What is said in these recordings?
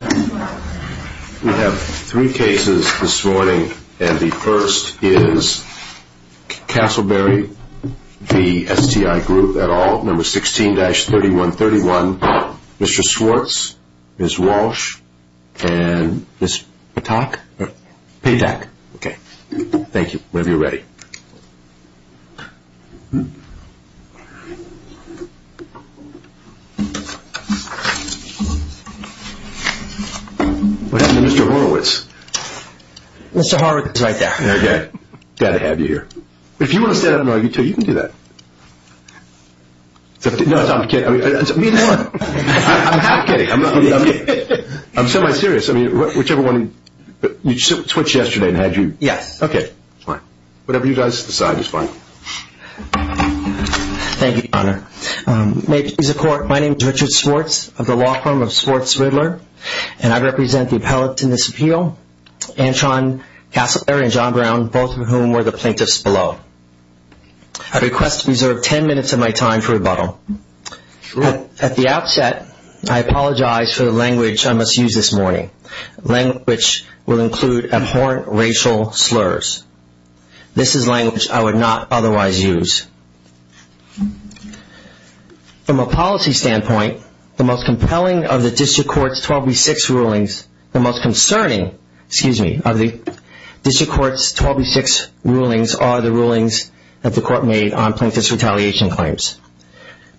We have three cases this morning. And the first is Castleberry v. STI Group et al., number 16-3131. Mr. Swartz, Ms. Walsh, and Ms. Patak? Patak. Okay. Thank you. Whenever you're ready. What happened to Mr. Horowitz? Mr. Horowitz is right there. Okay. Glad to have you here. If you want to stand up and argue too, you can do that. No, I'm kidding. I'm not kidding. I'm semi-serious. Whichever one, you switched yesterday and had you... Yes. Whatever you guys decide is fine. Thank you, Your Honor. May it please the Court, my name is Richard Swartz of the law firm of Swartz Riddler, and I represent the appellants in this appeal, Antron Castleberry and John Brown, both of whom were the plaintiffs below. I request to reserve ten minutes of my time for rebuttal. At the outset, I apologize for the language I must use this morning, language which will include abhorrent racial slurs. This is language I would not otherwise use. From a policy standpoint, the most compelling of the district court's 12B6 rulings, the most concerning, excuse me, of the district court's 12B6 rulings are the rulings that the court made on plaintiff's retaliation claims.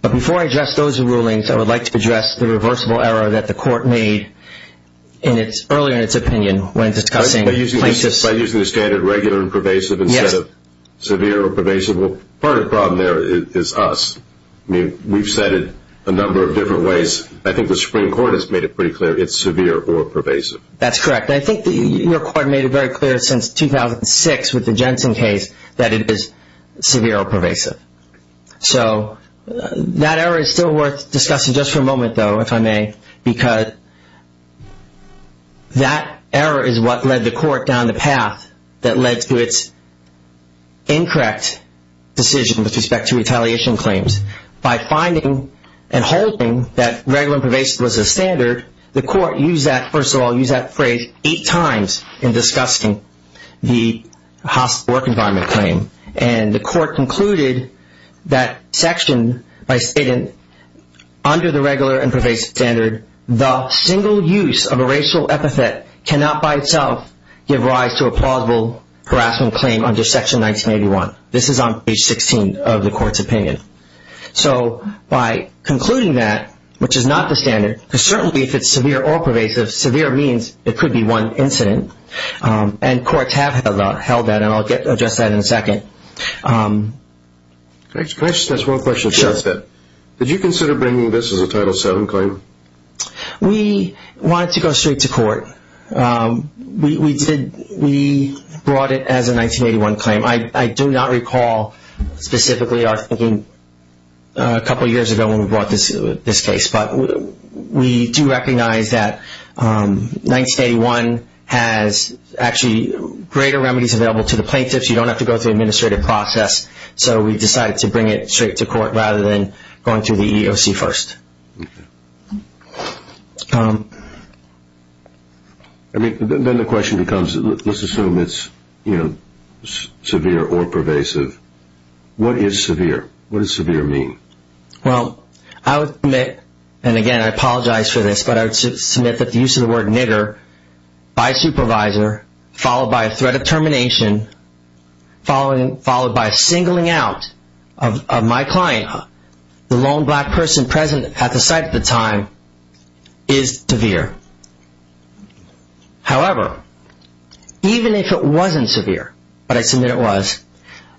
But before I address those rulings, I would like to address the reversible error that the court made earlier in its opinion when discussing plaintiffs' By using the standard regular and pervasive instead of severe or pervasive. Well, part of the problem there is us. I mean, we've said it a number of different ways. I think the Supreme Court has made it pretty clear it's severe or pervasive. That's correct, and I think your court made it very clear since 2006 with the Jensen case that it is severe or pervasive. So that error is still worth discussing just for a moment, though, if I may, because that error is what led the court down the path that led to its incorrect decision with respect to retaliation claims. By finding and holding that regular and pervasive was the standard, the court used that, first of all, used that phrase eight times in discussing the hospital work environment claim. And the court concluded that section by stating, under the regular and pervasive standard, the single use of a racial epithet cannot by itself give rise to a plausible harassment claim under section 1981. This is on page 16 of the court's opinion. So by concluding that, which is not the standard, because certainly if it's severe or pervasive, severe means it could be one incident, and courts have held that, and I'll address that in a second. Can I just ask one question? Sure. Did you consider bringing this as a Title VII claim? We wanted to go straight to court. We brought it as a 1981 claim. I do not recall specifically our thinking a couple years ago when we brought this case, but we do recognize that 1981 has actually greater remedies available to the plaintiffs. You don't have to go through an administrative process, so we decided to bring it straight to court rather than going through the EEOC first. Then the question becomes, let's assume it's severe or pervasive. What is severe? What does severe mean? Well, I would submit, and again I apologize for this, but I would submit that the use of the word nigger by supervisor, followed by a threat of termination, followed by a singling out of my client, the lone black person present at the site at the time, is severe. However, even if it wasn't severe, but I submit it was,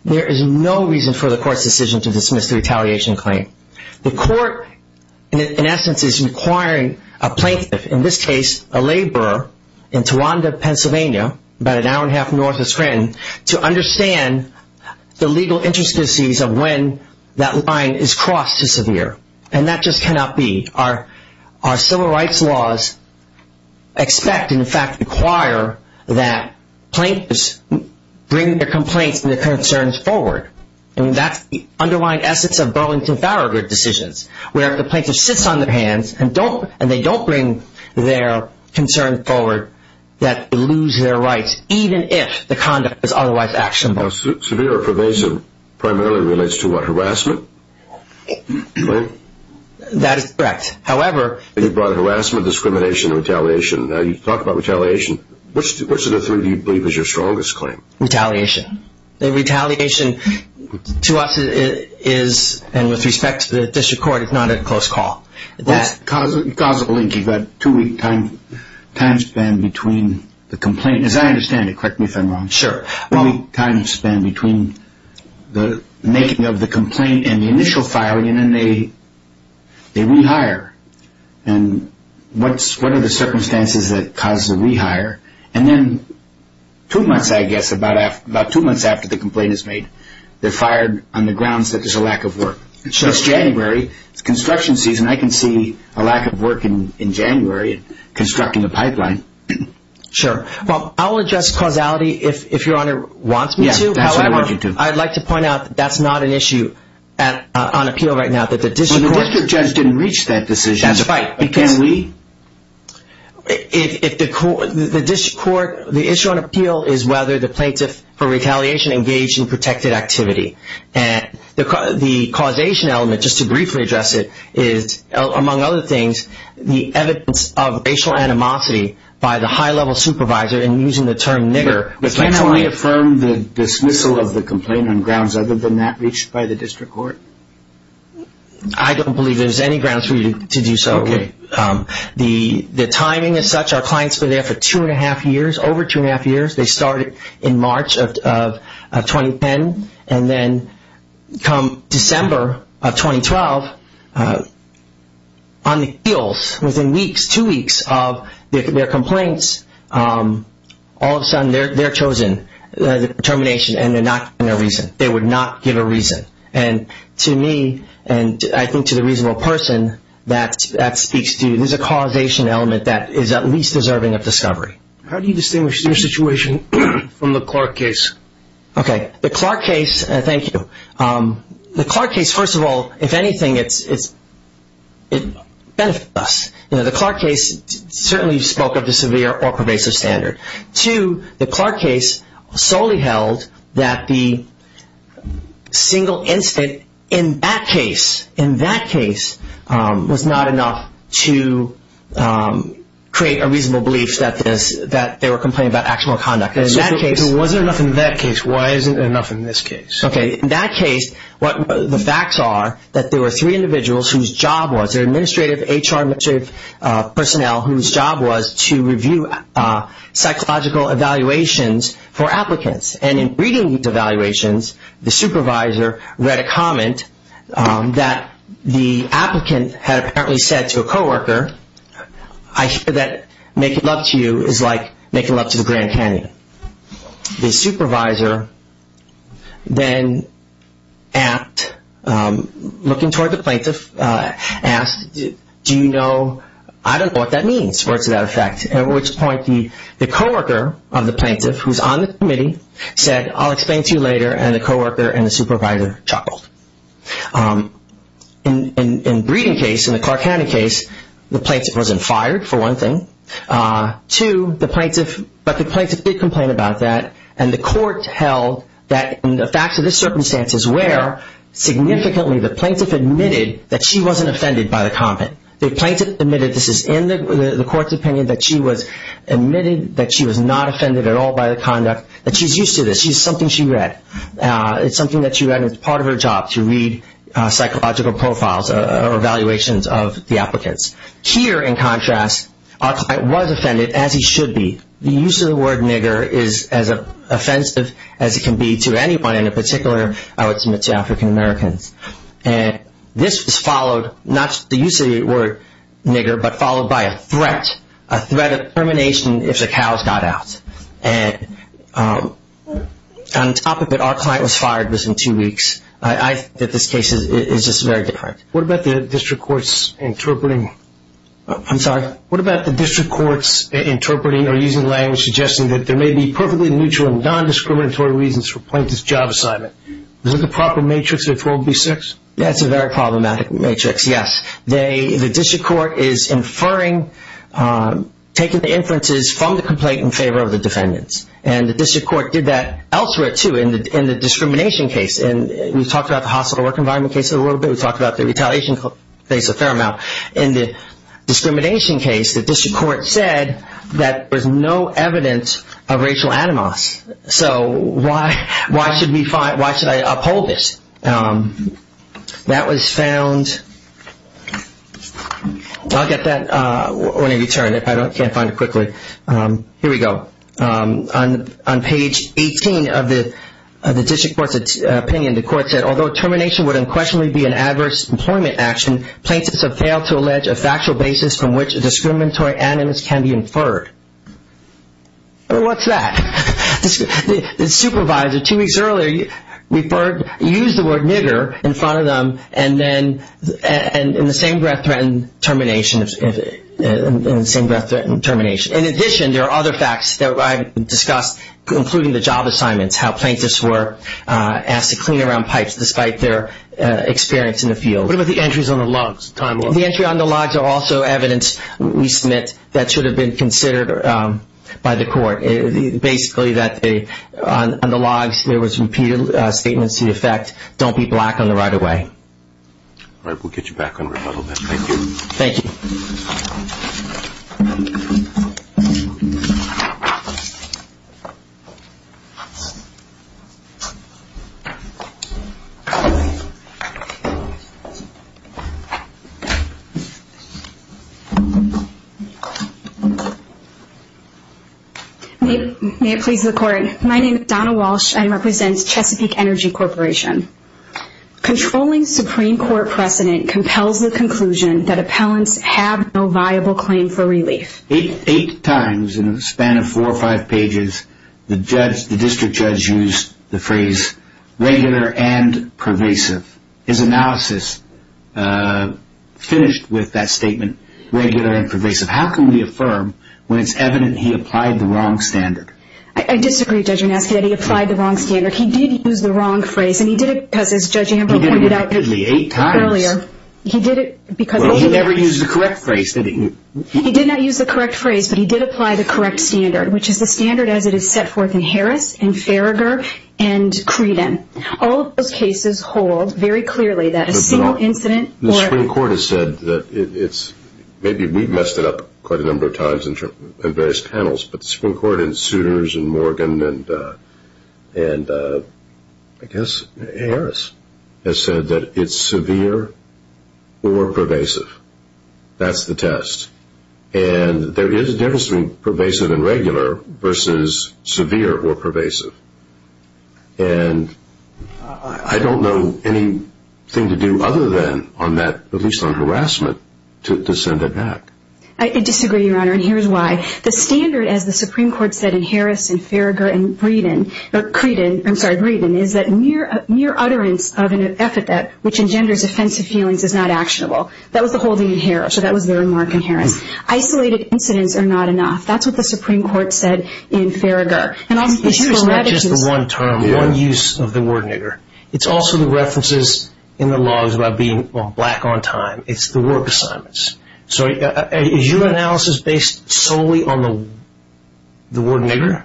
there is no reason for the court's decision to dismiss the retaliation claim. The court, in essence, is requiring a plaintiff, in this case a laborer in Tawanda, Pennsylvania, about an hour and a half north of Scranton, to understand the legal intricacies of when that line is crossed to severe, and that just cannot be. Our civil rights laws expect, and in fact require, that plaintiffs bring their complaints and their concerns forward. That's the underlying essence of Burlington-Farragut decisions, where if the plaintiff sits on their hands and they don't bring their concerns forward, that they lose their rights, even if the conduct is otherwise actionable. That is correct. However... You brought harassment, discrimination, and retaliation. Now, you talk about retaliation. Which of the three do you believe is your strongest claim? Retaliation. Retaliation, to us, is, and with respect to the district court, is not a close call. What's the causal link? You've got a two-week time span between the complaint, as I understand it, correct me if I'm wrong. Sure. Two-week time span between the making of the complaint and the initial filing, and then they rehire. And what are the circumstances that cause the rehire? And then two months, I guess, about two months after the complaint is made, they're fired on the grounds that there's a lack of work. It's January. It's construction season. I can see a lack of work in January constructing a pipeline. Sure. Well, I'll address causality if Your Honor wants me to. Yes, that's what I want you to. However, I'd like to point out that that's not an issue on appeal right now. The district judge didn't reach that decision. That's right. Can we? The issue on appeal is whether the plaintiff, for retaliation, engaged in protected activity. The causation element, just to briefly address it, is, among other things, the evidence of racial animosity by the high-level supervisor in using the term nigger. But can I only affirm the dismissal of the complaint on grounds other than that reached by the district court? I don't believe there's any grounds for you to do so. Okay. The timing is such our clients have been there for two and a half years, over two and a half years. They started in March of 2010. And then come December of 2012, on the heels, within weeks, two weeks of their complaints, all of a sudden they're chosen for termination and they're not given a reason. They would not give a reason. And to me, and I think to the reasonable person, that speaks to, there's a causation element that is at least deserving of discovery. How do you distinguish their situation from the Clark case? Okay. The Clark case, thank you. The Clark case, first of all, if anything, it benefits us. The Clark case certainly spoke of the severe or pervasive standard. Two, the Clark case solely held that the single incident in that case, in that case, was not enough to create a reasonable belief that they were complaining about actual conduct. If it wasn't enough in that case, why isn't it enough in this case? Okay. In that case, the facts are that there were three individuals whose job was, their administrative HR, administrative personnel, whose job was to review psychological evaluations for applicants. And in reading these evaluations, the supervisor read a comment that the applicant had apparently said to a co-worker, I hear that making love to you is like making love to the Grand Canyon. The supervisor then asked, looking toward the plaintiff, asked, do you know, I don't know what that means, words to that effect. At which point the co-worker of the plaintiff, who is on the committee, said, I'll explain to you later, and the co-worker and the supervisor chuckled. In the reading case, in the Clark County case, the plaintiff wasn't fired, for one thing. Two, the plaintiff, but the plaintiff did complain about that, and the court held that the facts of the circumstances were significantly, the plaintiff admitted that she wasn't offended by the comment. The plaintiff admitted, this is in the court's opinion, that she was admitted that she was not offended at all by the conduct, that she's used to this, she's something she read. It's something that she read and it's part of her job to read psychological profiles or evaluations of the applicants. Here, in contrast, our client was offended, as he should be. The use of the word nigger is as offensive as it can be to anyone, and in particular I would submit to African Americans. And this was followed, not the use of the word nigger, but followed by a threat, a threat of termination if the cows got out. And on top of it, our client was fired within two weeks. I think that this case is just very different. What about the district court's interpreting? I'm sorry? What about the district court's interpreting or using language suggesting that there may be perfectly neutral and non-discriminatory reasons for a plaintiff's job assignment? Is it the proper matrix of 4B6? That's a very problematic matrix, yes. The district court is inferring, taking the inferences from the complaint in favor of the defendants. And the district court did that elsewhere, too, in the discrimination case. And we've talked about the hospital work environment case a little bit. We've talked about the retaliation case a fair amount. In the discrimination case, the district court said that there's no evidence of racial animos. So why should I uphold this? That was found. I'll get that when I return if I can't find it quickly. Here we go. On page 18 of the district court's opinion, the court said, although termination would unquestionably be an adverse employment action, plaintiffs have failed to allege a factual basis from which a discriminatory animos can be inferred. What's that? The supervisor two weeks earlier used the word nigger in front of them and then in the same breath threatened termination. In addition, there are other facts that I've discussed, including the job assignments, how plaintiffs were asked to clean around pipes despite their experience in the field. What about the entries on the logs? The entry on the logs are also evidence, we submit, that should have been considered by the court. Basically that on the logs there was repeated statements to the effect, don't be black on the right of way. All right. We'll get you back on rebuttal then. Thank you. Thank you. May it please the court. My name is Donna Walsh. I represent Chesapeake Energy Corporation. Controlling Supreme Court precedent compels the conclusion that appellants have no viable claim for relief. Eight times in a span of four or five pages, the district judge used the phrase regular and pervasive. His analysis finished with that statement, regular and pervasive. How can we affirm when it's evident he applied the wrong standard? I disagree, Judge Anastasiad. He applied the wrong standard. He did use the wrong phrase, and he did it because, as Judge Amber pointed out earlier, he did it because Well, he never used the correct phrase. He did not use the correct phrase, but he did apply the correct standard, which is the standard as it is set forth in Harris and Farragher and Creeden. All of those cases hold very clearly that a single incident or The Supreme Court has said that it's Maybe we've messed it up quite a number of times in various panels, but the Supreme Court and suitors and Morgan and I guess Harris has said that it's severe or pervasive. That's the test. And there is a difference between pervasive and regular versus severe or pervasive. And I don't know anything to do other than on that, at least on harassment, to send it back. I disagree, Your Honor, and here's why. The standard, as the Supreme Court said in Harris and Farragher and Creeden, is that mere utterance of an affidavit which engenders offensive feelings is not actionable. That was the holding in Harris, so that was their remark in Harris. Isolated incidents are not enough. That's what the Supreme Court said in Farragher. It's not just the one term, one use of the word nigger. It's also the references in the laws about being black on time. It's the work assignments. So is your analysis based solely on the word nigger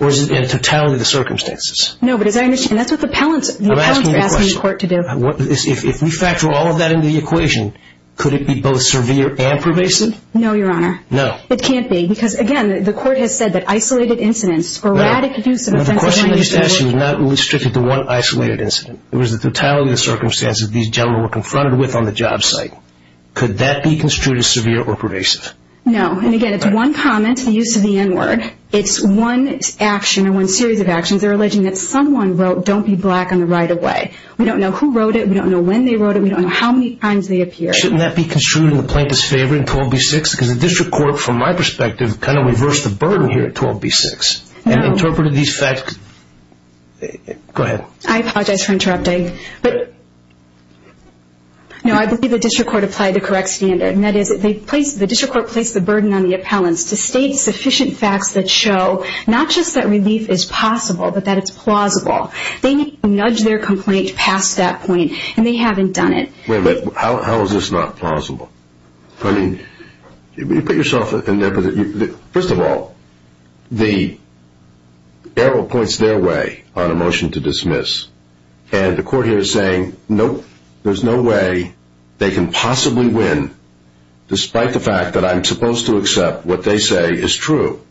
or is it in totality the circumstances? No, but that's what the appellants are asking the court to do. If we factor all of that into the equation, could it be both severe and pervasive? No, Your Honor. No. It can't be because, again, the court has said that isolated incidents, sporadic use of offensive language. The question they're asking is not restricted to one isolated incident. It was the totality of the circumstances these gentlemen were confronted with on the job site. Could that be construed as severe or pervasive? No, and again, it's one comment, the use of the n-word. It's one action or one series of actions. They're alleging that someone wrote, don't be black on the right of way. We don't know who wrote it. We don't know when they wrote it. We don't know how many times they appeared. Shouldn't that be construed in the plaintiff's favor in 12b-6? Because the district court, from my perspective, kind of reversed the burden here at 12b-6 and interpreted these facts. Go ahead. I apologize for interrupting. No, I believe the district court applied the correct standard, and that is the district court placed the burden on the appellants to state sufficient facts that show not just that relief is possible but that it's plausible. They need to nudge their complaint past that point, and they haven't done it. Wait a minute. How is this not plausible? I mean, put yourself in their position. First of all, the arrow points their way on a motion to dismiss, and the court here is saying, nope, there's no way they can possibly win, despite the fact that I'm supposed to accept what they say is true.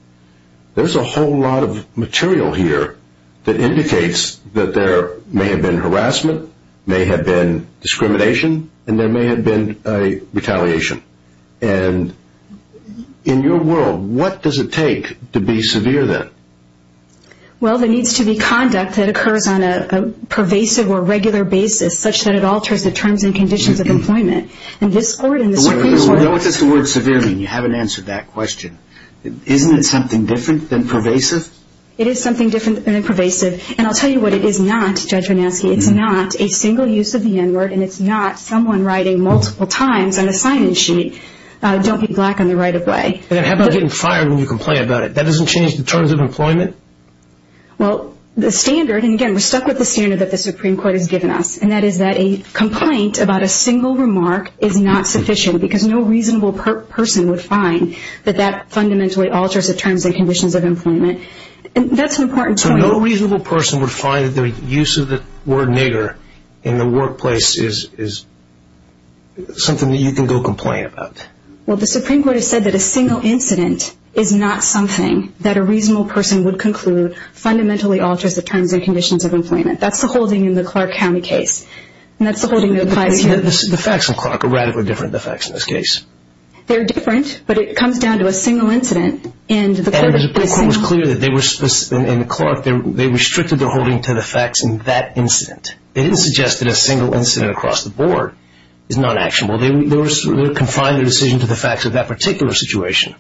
There's a whole lot of material here that indicates that there may have been harassment, there may have been discrimination, and there may have been a retaliation. And in your world, what does it take to be severe then? Well, there needs to be conduct that occurs on a pervasive or regular basis such that it alters the terms and conditions of employment. And this court in the Supreme Court. What does the word severe mean? You haven't answered that question. Isn't it something different than pervasive? It is something different than pervasive. And I'll tell you what it is not, Judge Vannesky. It's not a single use of the N-word, and it's not someone writing multiple times on a sign-in sheet, don't be black on the right of way. How about getting fired when you complain about it? That doesn't change the terms of employment? Well, the standard, and again, we're stuck with the standard that the Supreme Court has given us, and that is that a complaint about a single remark is not sufficient and conditions of employment. That's an important point. So no reasonable person would find that the use of the word nigger in the workplace is something that you can go complain about? Well, the Supreme Court has said that a single incident is not something that a reasonable person would conclude fundamentally alters the terms and conditions of employment. That's the holding in the Clark County case, and that's the holding that applies here. The facts in Clark are radically different than the facts in this case. They're different, but it comes down to a single incident. And it was clear that in Clark they restricted the holding to the facts in that incident. They didn't suggest that a single incident across the board is not actionable. They confined the decision to the facts of that particular situation.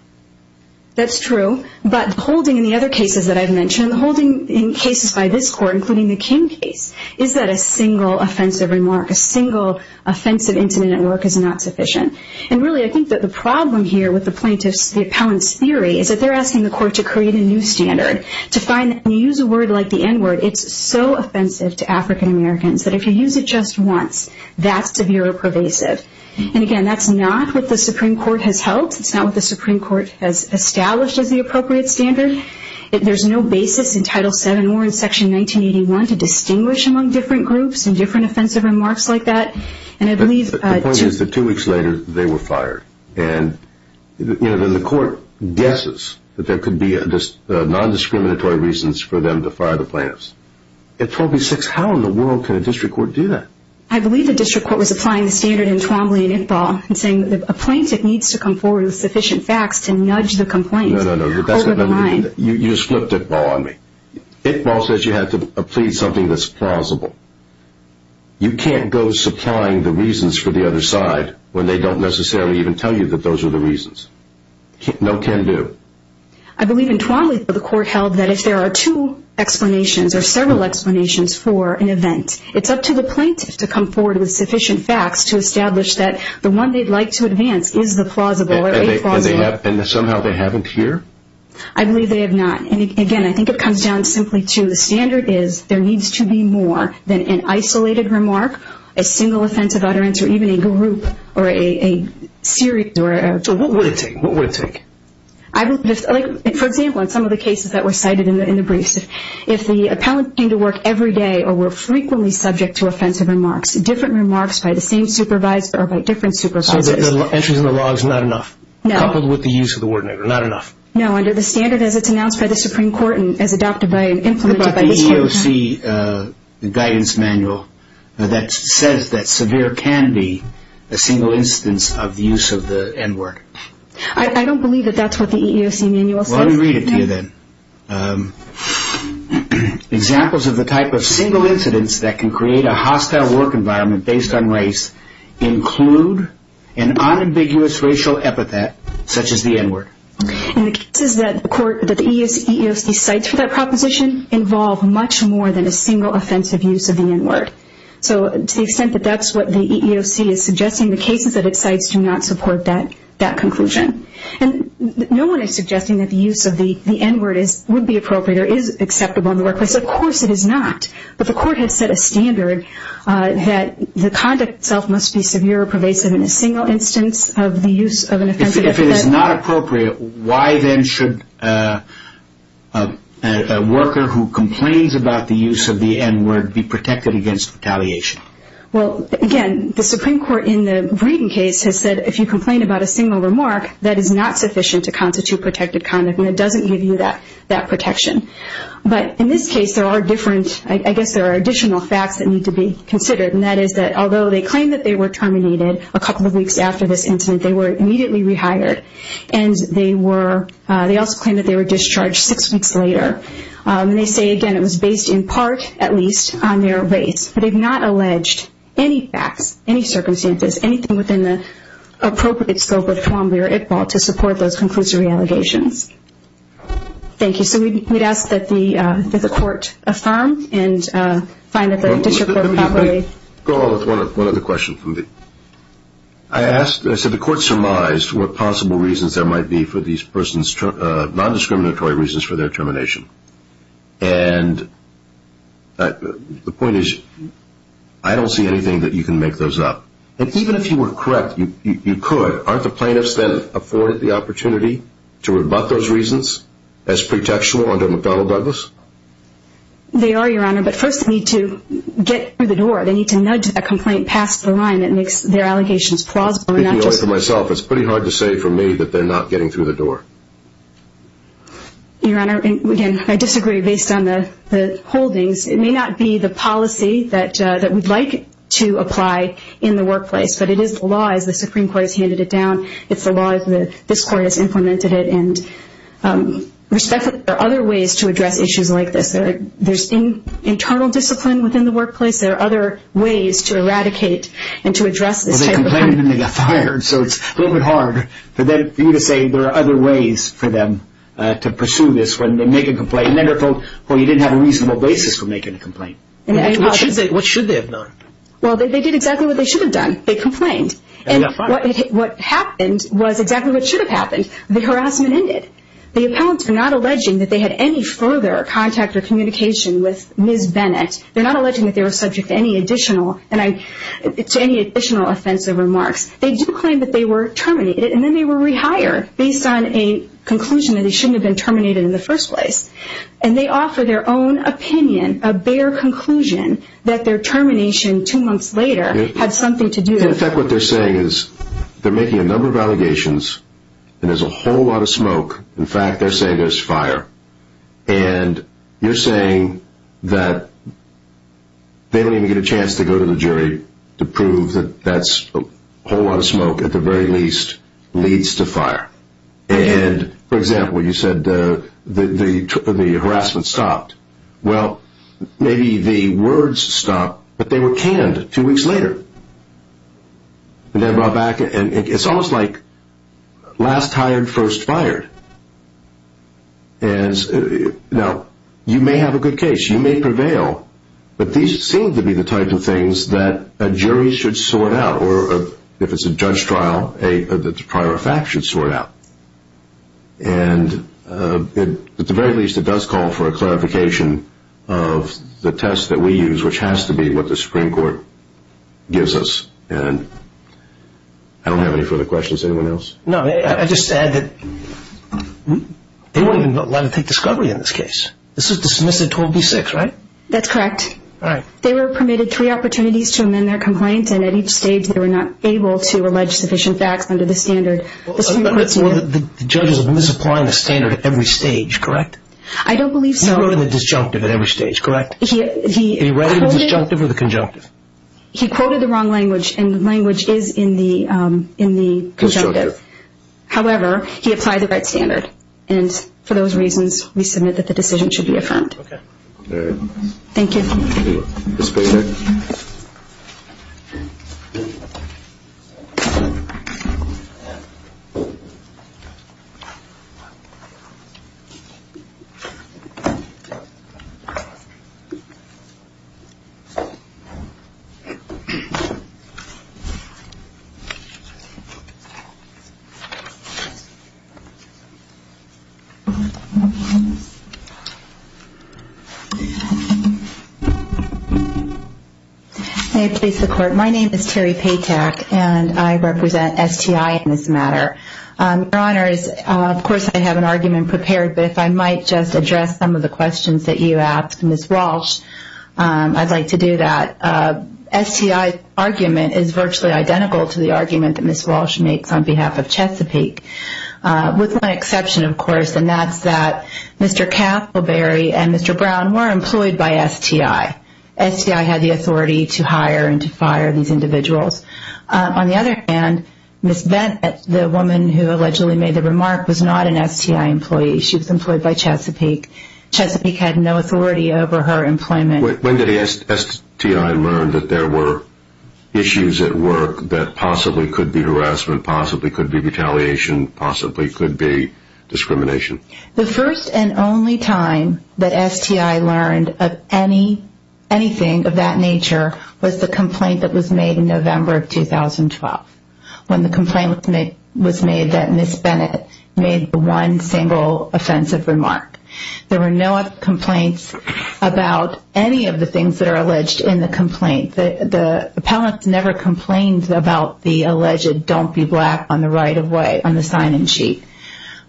That's true, but the holding in the other cases that I've mentioned, the holding in cases by this Court, including the King case, is that a single offensive remark, a single offensive incident at work is not sufficient. And really I think that the problem here with the plaintiff's, the appellant's theory is that they're asking the Court to create a new standard. To find that when you use a word like the n-word, it's so offensive to African Americans that if you use it just once, that's severe or pervasive. And again, that's not what the Supreme Court has held. It's not what the Supreme Court has established as the appropriate standard. There's no basis in Title VII or in Section 1981 to distinguish among different groups and different offensive remarks like that. The point is that two weeks later they were fired. And the Court guesses that there could be non-discriminatory reasons for them to fire the plaintiffs. In 1286, how in the world can a district court do that? I believe the district court was applying the standard in Twombly and Iqbal and saying that a plaintiff needs to come forward with sufficient facts to nudge the complaint over the line. No, no, no, you just flipped Iqbal on me. Iqbal says you have to plead something that's plausible. You can't go supplying the reasons for the other side when they don't necessarily even tell you that those are the reasons. No can do. I believe in Twombly the Court held that if there are two explanations or several explanations for an event, it's up to the plaintiff to come forward with sufficient facts to establish that the one they'd like to advance is the plausible or a plausible. And somehow they haven't here? I believe they have not. Again, I think it comes down simply to the standard is there needs to be more than an isolated remark, a single offensive utterance, or even a group or a series. So what would it take? For example, in some of the cases that were cited in the briefs, if the appellant came to work every day or were frequently subject to offensive remarks, different remarks by the same supervisor or by different supervisors. Entries in the logs, not enough? No. Coupled with the use of the word nigger, not enough? No, under the standard as it's announced by the Supreme Court and as adopted by and implemented by the EEOC. What about the EEOC guidance manual that says that severe can be a single instance of the use of the n-word? I don't believe that that's what the EEOC manual says. Well, let me read it to you then. Examples of the type of single incidents that can create a hostile work environment based on race include an unambiguous racial epithet such as the n-word. And the cases that the EEOC cites for that proposition involve much more than a single offensive use of the n-word. So to the extent that that's what the EEOC is suggesting, the cases that it cites do not support that conclusion. And no one is suggesting that the use of the n-word would be appropriate or is acceptable in the workplace. Of course it is not. But the court has set a standard that the conduct itself must be severe or pervasive in a single instance of the use of an offensive epithet. If it is not appropriate, why then should a worker who complains about the use of the n-word be protected against retaliation? Well, again, the Supreme Court in the Breeden case has said if you complain about a single remark, that is not sufficient to constitute protected conduct and it doesn't give you that protection. But in this case there are different, I guess there are additional facts that need to be considered. And that is that although they claim that they were terminated a couple of weeks after this incident, they were immediately rehired and they also claim that they were discharged six weeks later. And they say, again, it was based in part, at least, on their race. But they've not alleged any facts, any circumstances, anything within the appropriate scope of Columbia or Iqbal to support those conclusory allegations. Thank you. So we'd ask that the court affirm and find that the district court properly. Go along with one other question. I asked, I said the court surmised what possible reasons there might be for these persons' non-discriminatory reasons for their termination. And the point is I don't see anything that you can make those up. And even if you were correct, you could. Aren't the plaintiffs then afforded the opportunity to rebut those reasons as pretextual under McDonnell-Douglas? They are, Your Honor. But first they need to get through the door. They need to nudge a complaint past the line that makes their allegations plausible. Speaking only for myself, it's pretty hard to say for me that they're not getting through the door. Your Honor, again, I disagree based on the holdings. It may not be the policy that we'd like to apply in the workplace, but it is the law as the Supreme Court has handed it down. It's the law as this court has implemented it. And respectfully, there are other ways to address issues like this. There's internal discipline within the workplace. There are other ways to eradicate and to address this type of crime. Well, they complained and they got fired, so it's a little bit hard for you to say there are other ways for them to pursue this. Well, you didn't have a reasonable basis for making a complaint. What should they have done? Well, they did exactly what they should have done. They complained. And what happened was exactly what should have happened. The harassment ended. The appellants are not alleging that they had any further contact or communication with Ms. Bennett. They're not alleging that they were subject to any additional offensive remarks. They do claim that they were terminated, and then they were rehired, based on a conclusion that they shouldn't have been terminated in the first place. And they offer their own opinion, a bare conclusion, that their termination two months later had something to do with it. In fact, what they're saying is they're making a number of allegations, and there's a whole lot of smoke. In fact, they're saying there's fire. And you're saying that they don't even get a chance to go to the jury to prove that that's a whole lot of smoke, at the very least, leads to fire. And, for example, you said the harassment stopped. Well, maybe the words stopped, but they were canned two weeks later. It's almost like last hired, first fired. Now, you may have a good case. You may prevail. But these seem to be the types of things that a jury should sort out, or if it's a judge trial, a prior fact should sort out. And, at the very least, it does call for a clarification of the test that we use, which has to be what the Supreme Court gives us. And I don't have any further questions. Anyone else? No. I just said that they wouldn't even let him take discovery in this case. This is dismissive 12b-6, right? That's correct. All right. They were permitted three opportunities to amend their complaint, The judge is applying the standard at every stage, correct? I don't believe so. He wrote in the disjunctive at every stage, correct? He quoted the wrong language, and the language is in the conjunctive. However, he applied the right standard. And, for those reasons, we submit that the decision should be affirmed. Okay. All right. Thank you. Thank you. This way, sir. May it please the Court. My name is Terri Paytack, and I represent STI in this matter. Your Honors, of course, I have an argument prepared, but if I might just address some of the questions that you asked Ms. Walsh, I'd like to do that. STI's argument is virtually identical to the argument that Ms. Walsh makes on behalf of Chesapeake, with one exception, of course, and that's that Mr. Cappleberry and Mr. Brown were employed by STI. STI had the authority to hire and to fire these individuals. On the other hand, Ms. Bennett, the woman who allegedly made the remark, was not an STI employee. She was employed by Chesapeake. Chesapeake had no authority over her employment. When did STI learn that there were issues at work that possibly could be harassment, possibly could be retaliation, possibly could be discrimination? The first and only time that STI learned of anything of that nature was the complaint that was made in November of 2012, when the complaint was made that Ms. Bennett made one single offensive remark. There were no complaints about any of the things that are alleged in the complaint. The appellant never complained about the alleged don't be black on the right of way on the sign-in sheet.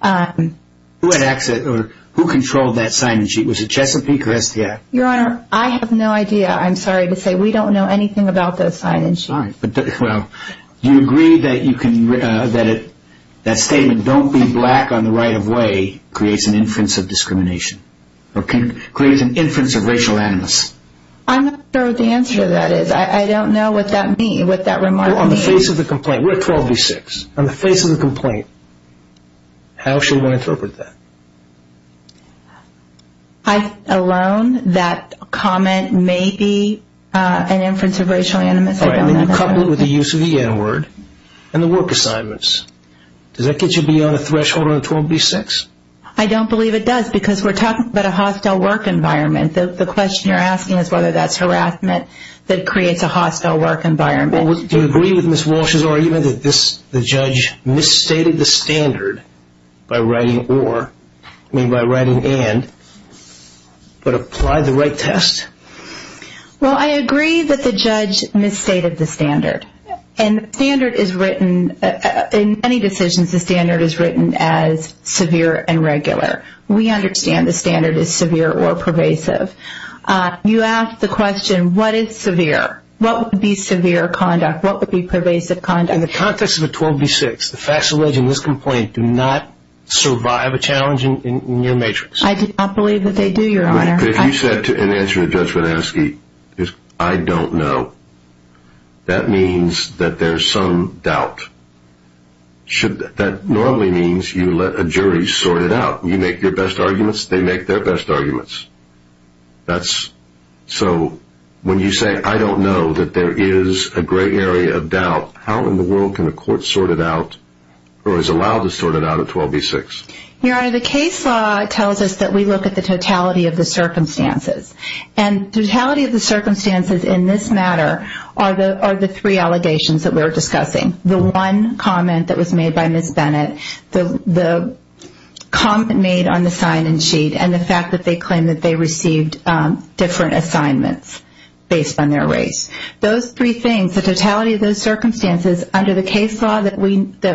Who had access or who controlled that sign-in sheet? Was it Chesapeake or STI? Your Honor, I have no idea. I'm sorry to say we don't know anything about that sign-in sheet. Do you agree that that statement, don't be black on the right of way, creates an inference of discrimination, or creates an inference of racial animus? I'm not sure what the answer to that is. I don't know what that means, what that remark means. On the face of the complaint, we're at 12 v. 6. On the face of the complaint, how should one interpret that? I alone, that comment may be an inference of racial animus. You couple it with the use of the N-word and the work assignments. Does that get you beyond the threshold of 12 v. 6? I don't believe it does because we're talking about a hostile work environment. The question you're asking is whether that's harassment that creates a hostile work environment. Do you agree with Ms. Walsh's argument that the judge misstated the standard by writing or, I mean by writing and, but applied the right test? Well, I agree that the judge misstated the standard. And the standard is written, in many decisions, the standard is written as severe and regular. We understand the standard is severe or pervasive. You ask the question, what is severe? What would be severe conduct? What would be pervasive conduct? In the context of a 12 v. 6, the facts allege in this complaint do not survive a challenge in your matrix. I do not believe that they do, Your Honor. If you said in answer to Judge Vanesky, I don't know, that means that there's some doubt. That normally means you let a jury sort it out. You make your best arguments, they make their best arguments. So when you say, I don't know, that there is a great area of doubt, how in the world can a court sort it out or is allowed to sort it out at 12 v. 6? Your Honor, the case law tells us that we look at the totality of the circumstances. And the totality of the circumstances in this matter are the three allegations that we're discussing. The one comment that was made by Ms. Bennett, the comment made on the sign-in sheet, and the fact that they claim that they received different assignments based on their race. Those three things, the totality of those circumstances under the case law that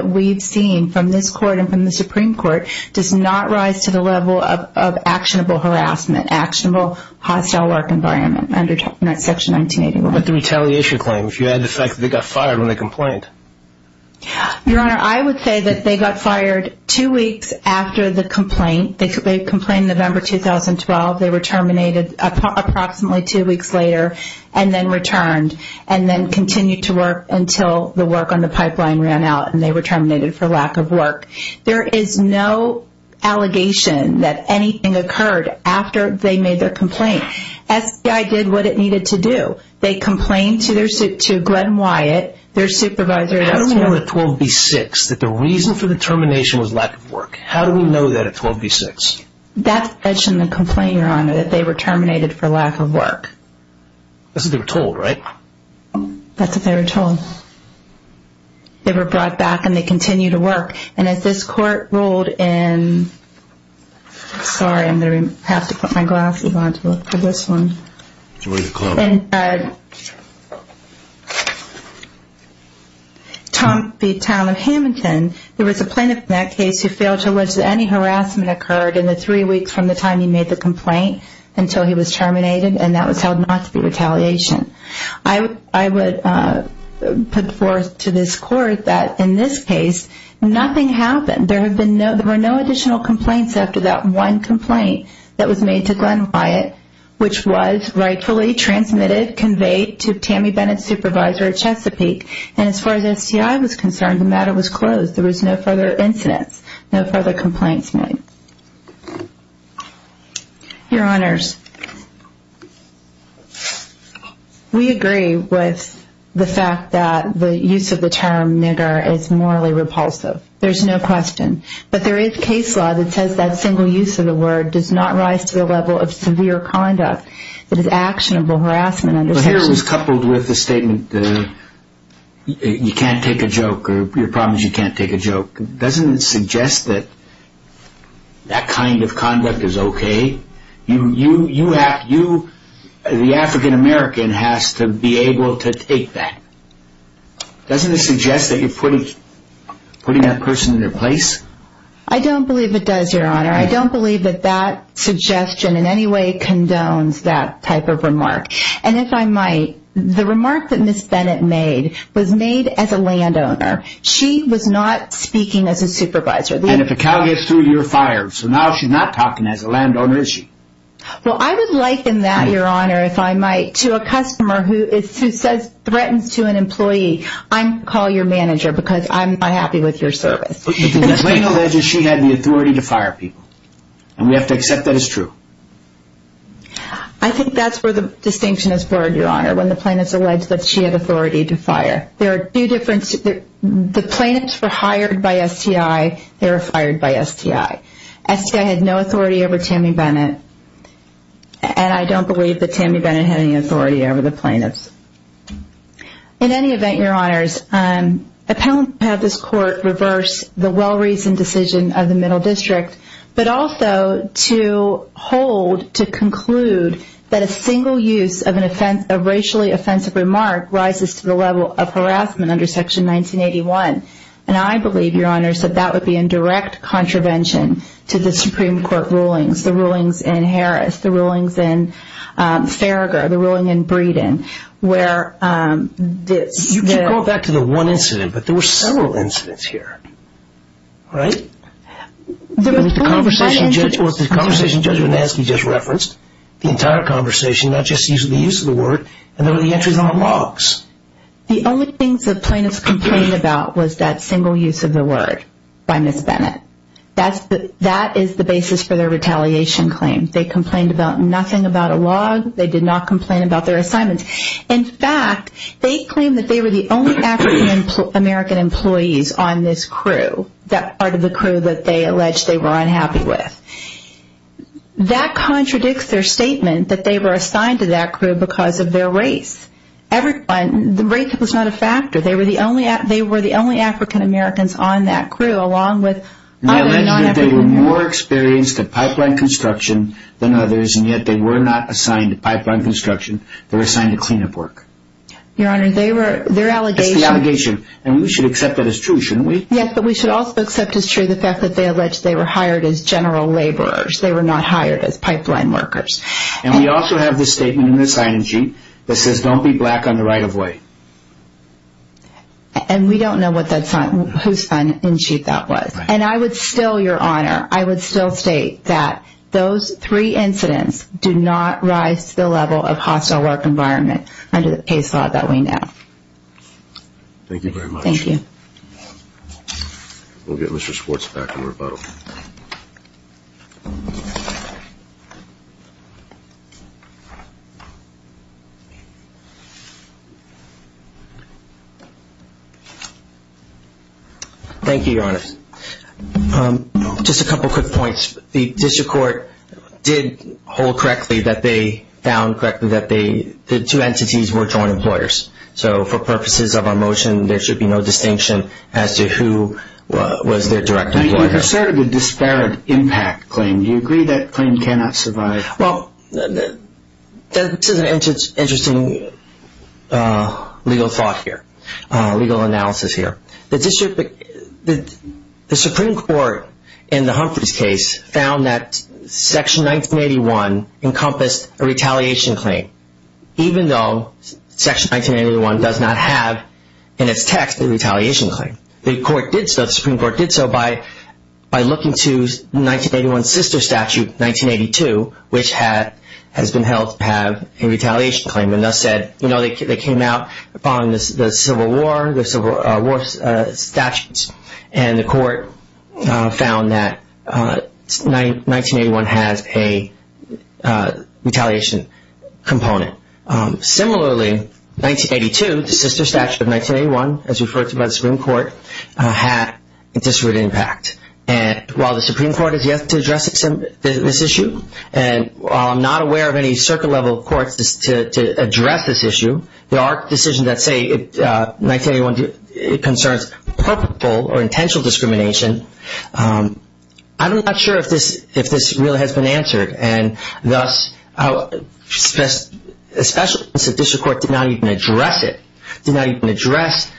we've seen from this court and from the Supreme Court does not rise to the level of actionable harassment, actionable hostile work environment under Section 1981. But the retaliation claim, if you add the fact that they got fired when they complained. Your Honor, I would say that they got fired two weeks after the complaint. They complained November 2012. They were terminated approximately two weeks later and then returned and then continued to work until the work on the pipeline ran out and they were terminated for lack of work. There is no allegation that anything occurred after they made their complaint. SBI did what it needed to do. They complained to Glenn Wyatt, their supervisor. How do we know at 12 v. 6 that the reason for the termination was lack of work? How do we know that at 12 v. 6? That's mentioned in the complaint, Your Honor, that they were terminated for lack of work. That's what they were told, right? That's what they were told. They were brought back and they continued to work. And as this court ruled in, sorry, I'm going to have to put my glasses on to look at this one. What did it call out? In the town of Hamilton, there was a plaintiff in that case who failed to allege that any harassment occurred in the three weeks from the time he made the complaint until he was terminated and that was held not to be retaliation. I would put forth to this court that in this case, nothing happened. There were no additional complaints after that one complaint that was made to Glenn Wyatt, which was rightfully transmitted, conveyed to Tammy Bennett's supervisor at Chesapeake. And as far as STI was concerned, the matter was closed. There was no further incidents, no further complaints made. Your Honors, we agree with the fact that the use of the term nigger is morally repulsive. There's no question. But there is case law that says that single use of the word does not rise to the level of severe conduct that is actionable harassment. Here it was coupled with the statement that you can't take a joke or your problem is you can't take a joke. Doesn't it suggest that that kind of conduct is okay? The African-American has to be able to take that. Doesn't it suggest that you're putting that person in their place? I don't believe it does, Your Honor. I don't believe that that suggestion in any way condones that type of remark. And if I might, the remark that Ms. Bennett made was made as a landowner. She was not speaking as a supervisor. And if a cow gets through, you're fired. So now she's not talking as a landowner, is she? Well, I would liken that, Your Honor, if I might, to a customer who threatens to an employee. I'm going to call your manager because I'm not happy with your service. But the plaintiff alleges she had the authority to fire people. And we have to accept that as true. I think that's where the distinction is blurred, Your Honor, when the plaintiff alleges that she had authority to fire. There are two differences. The plaintiffs were hired by STI. They were fired by STI. STI had no authority over Tammy Bennett. And I don't believe that Tammy Bennett had any authority over the plaintiffs. In any event, Your Honors, appellants have this court reverse the well-reasoned decision of the Middle District, but also to hold to conclude that a single use of a racially offensive remark rises to the level of harassment under Section 1981. And I believe, Your Honors, that that would be in direct contravention to the Supreme Court rulings, the rulings in Harris, the rulings in Farragher, the ruling in Breeden, where this... You keep going back to the one incident, but there were several incidents here. Right? The conversation Judge Banansky just referenced, the entire conversation, not just the use of the word, and there were the entries on the logs. The only things the plaintiffs complained about was that single use of the word by Ms. Bennett. That is the basis for their retaliation claim. They complained about nothing about a log. They did not complain about their assignments. In fact, they claimed that they were the only African American employees on this crew, that part of the crew that they alleged they were unhappy with. That contradicts their statement that they were assigned to that crew because of their race. The race was not a factor. They were the only African Americans on that crew, along with other non-African Americans. They alleged that they were more experienced at pipeline construction than others, and yet they were not assigned to pipeline construction. They were assigned to cleanup work. Your Honor, their allegation... That's the allegation, and we should accept that as true, shouldn't we? Yes, but we should also accept as true the fact that they alleged they were hired as general laborers. They were not hired as pipeline workers. And we also have this statement in the sign-in sheet that says, Don't be black on the right-of-way. And we don't know whose sign-in sheet that was. And I would still, Your Honor, I would still state that those three incidents do not rise to the level of hostile work environment under the case law that we know. Thank you very much. Thank you. We'll get Mr. Schwartz back in rebuttal. Thank you, Your Honor. Just a couple of quick points. The district court did hold correctly that they found correctly that the two entities were joint employers. So for purposes of our motion, there should be no distinction as to who was their direct employer. You asserted a disparate impact claim. Well, I do. This is an interesting legal thought here, legal analysis here. The Supreme Court in the Humphreys case found that Section 1981 encompassed a retaliation claim, even though Section 1981 does not have in its text a retaliation claim. The Supreme Court did so by looking to 1981's sister statute, 1982, which has been held to have a retaliation claim and thus said, you know, they came out following the Civil War, the Civil War statutes, and the court found that 1981 has a retaliation component. Similarly, 1982, the sister statute of 1981, as referred to by the Supreme Court, had a disparate impact. And while the Supreme Court is yet to address this issue, and while I'm not aware of any circuit-level courts to address this issue, there are decisions that say 1981 concerns purposeful or intentional discrimination. I'm not sure if this really has been answered. And thus, especially since the district court did not even address it, did not even address,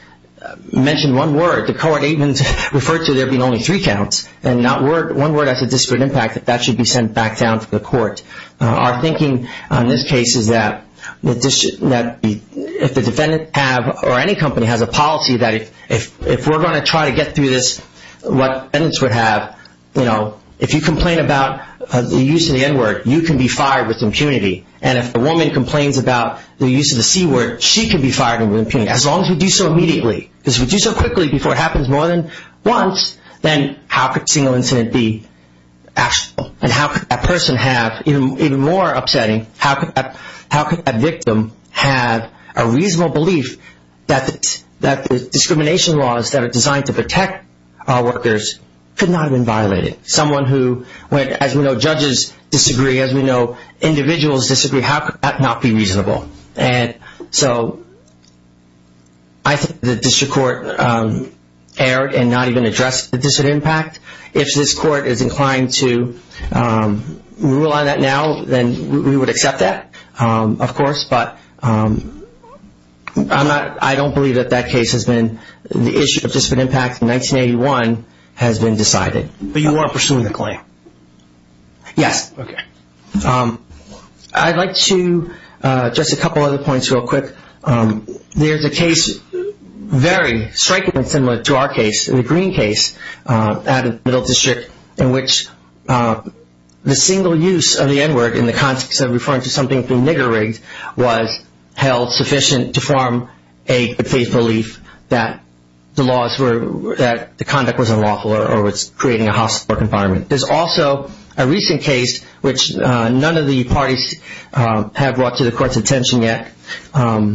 mention one word, the court even referred to there being only three counts and not one word as a disparate impact, that that should be sent back down to the court. Our thinking on this case is that if the defendant have, or any company has a policy, that if we're going to try to get through this, what evidence we have, you know, if you complain about the use of the N-word, you can be fired with impunity. And if a woman complains about the use of the C-word, she can be fired with impunity, as long as we do so immediately. Because if we do so quickly, before it happens more than once, then how could a single incident be actionable? And how could that person have, even more upsetting, how could that victim have a reasonable belief that the discrimination laws that are designed to protect our workers could not have been violated? Someone who, as we know, judges disagree, as we know individuals disagree, how could that not be reasonable? And so I think the district court erred and not even addressed the disparate impact. If this court is inclined to rule on that now, then we would accept that, of course. But I'm not, I don't believe that that case has been, the issue of disparate impact in 1981 has been decided. But you are pursuing the claim? Yes. Okay. I'd like to, just a couple other points real quick. There's a case, very strikingly similar to our case, the Green case, out of the Middle District, in which the single use of the N-word in the context of referring to something being nigger rigged was held sufficient to form a faith belief that the laws were, that the conduct was unlawful or was creating a hostile environment. There's also a recent case which none of the parties have brought to the court's attention yet. The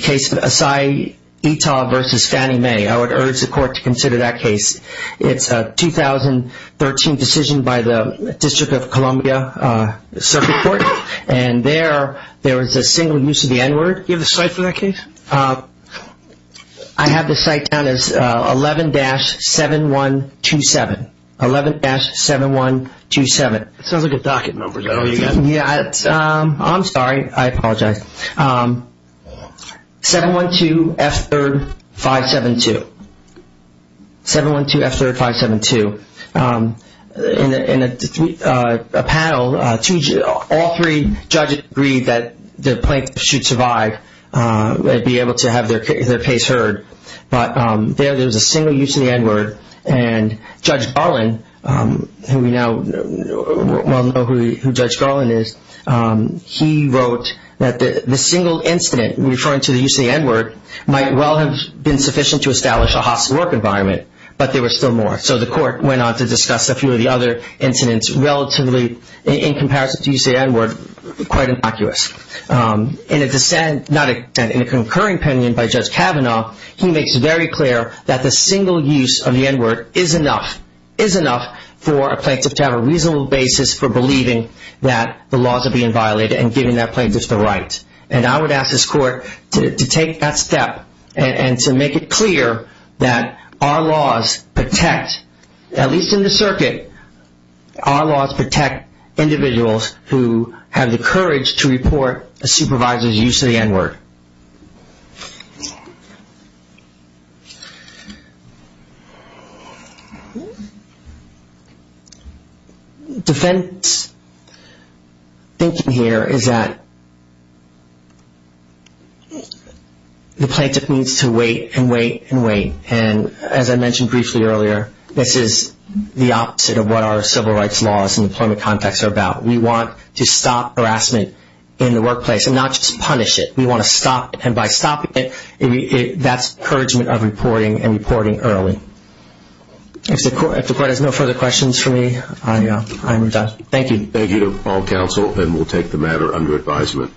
case of Asai Ito versus Fannie Mae. I would urge the court to consider that case. It's a 2013 decision by the District of Columbia Circuit Court. And there, there was a single use of the N-word. Do you have the site for that case? I have the site down as 11-7127. 11-7127. Sounds like a docket number. Is that all you got? Yeah, I'm sorry. I apologize. 712F3572. 712F3572. In a panel, all three judges agreed that the plaintiff should survive and be able to have their case heard. But there, there was a single use of the N-word. And Judge Garland, who we now know who Judge Garland is, he wrote that the single incident referring to the use of the N-word might well have been sufficient to establish a hostile work environment, but there was still more. So the court went on to discuss a few of the other incidents relatively, in comparison to the use of the N-word, quite innocuous. In a dissent, not a dissent, in a concurring opinion by Judge Kavanaugh, he makes it very clear that the single use of the N-word is enough, is enough for a plaintiff to have a reasonable basis for believing that the laws are being violated and giving that plaintiff the right. And I would ask this court to take that step and to make it clear that our laws protect, at least in the circuit, our laws protect individuals who have the courage to report a supervisor's use of the N-word. Defense thinking here is that the plaintiff needs to wait and wait and wait. And as I mentioned briefly earlier, this is the opposite of what our civil rights laws and employment context are about. We want to stop harassment in the workplace and not just punish it. We want to stop it. And by stopping it, that's encouragement of reporting and reporting early. If the court has no further questions for me, I am done. Thank you. Thank you to all counsel, and we'll take the matter under advisement.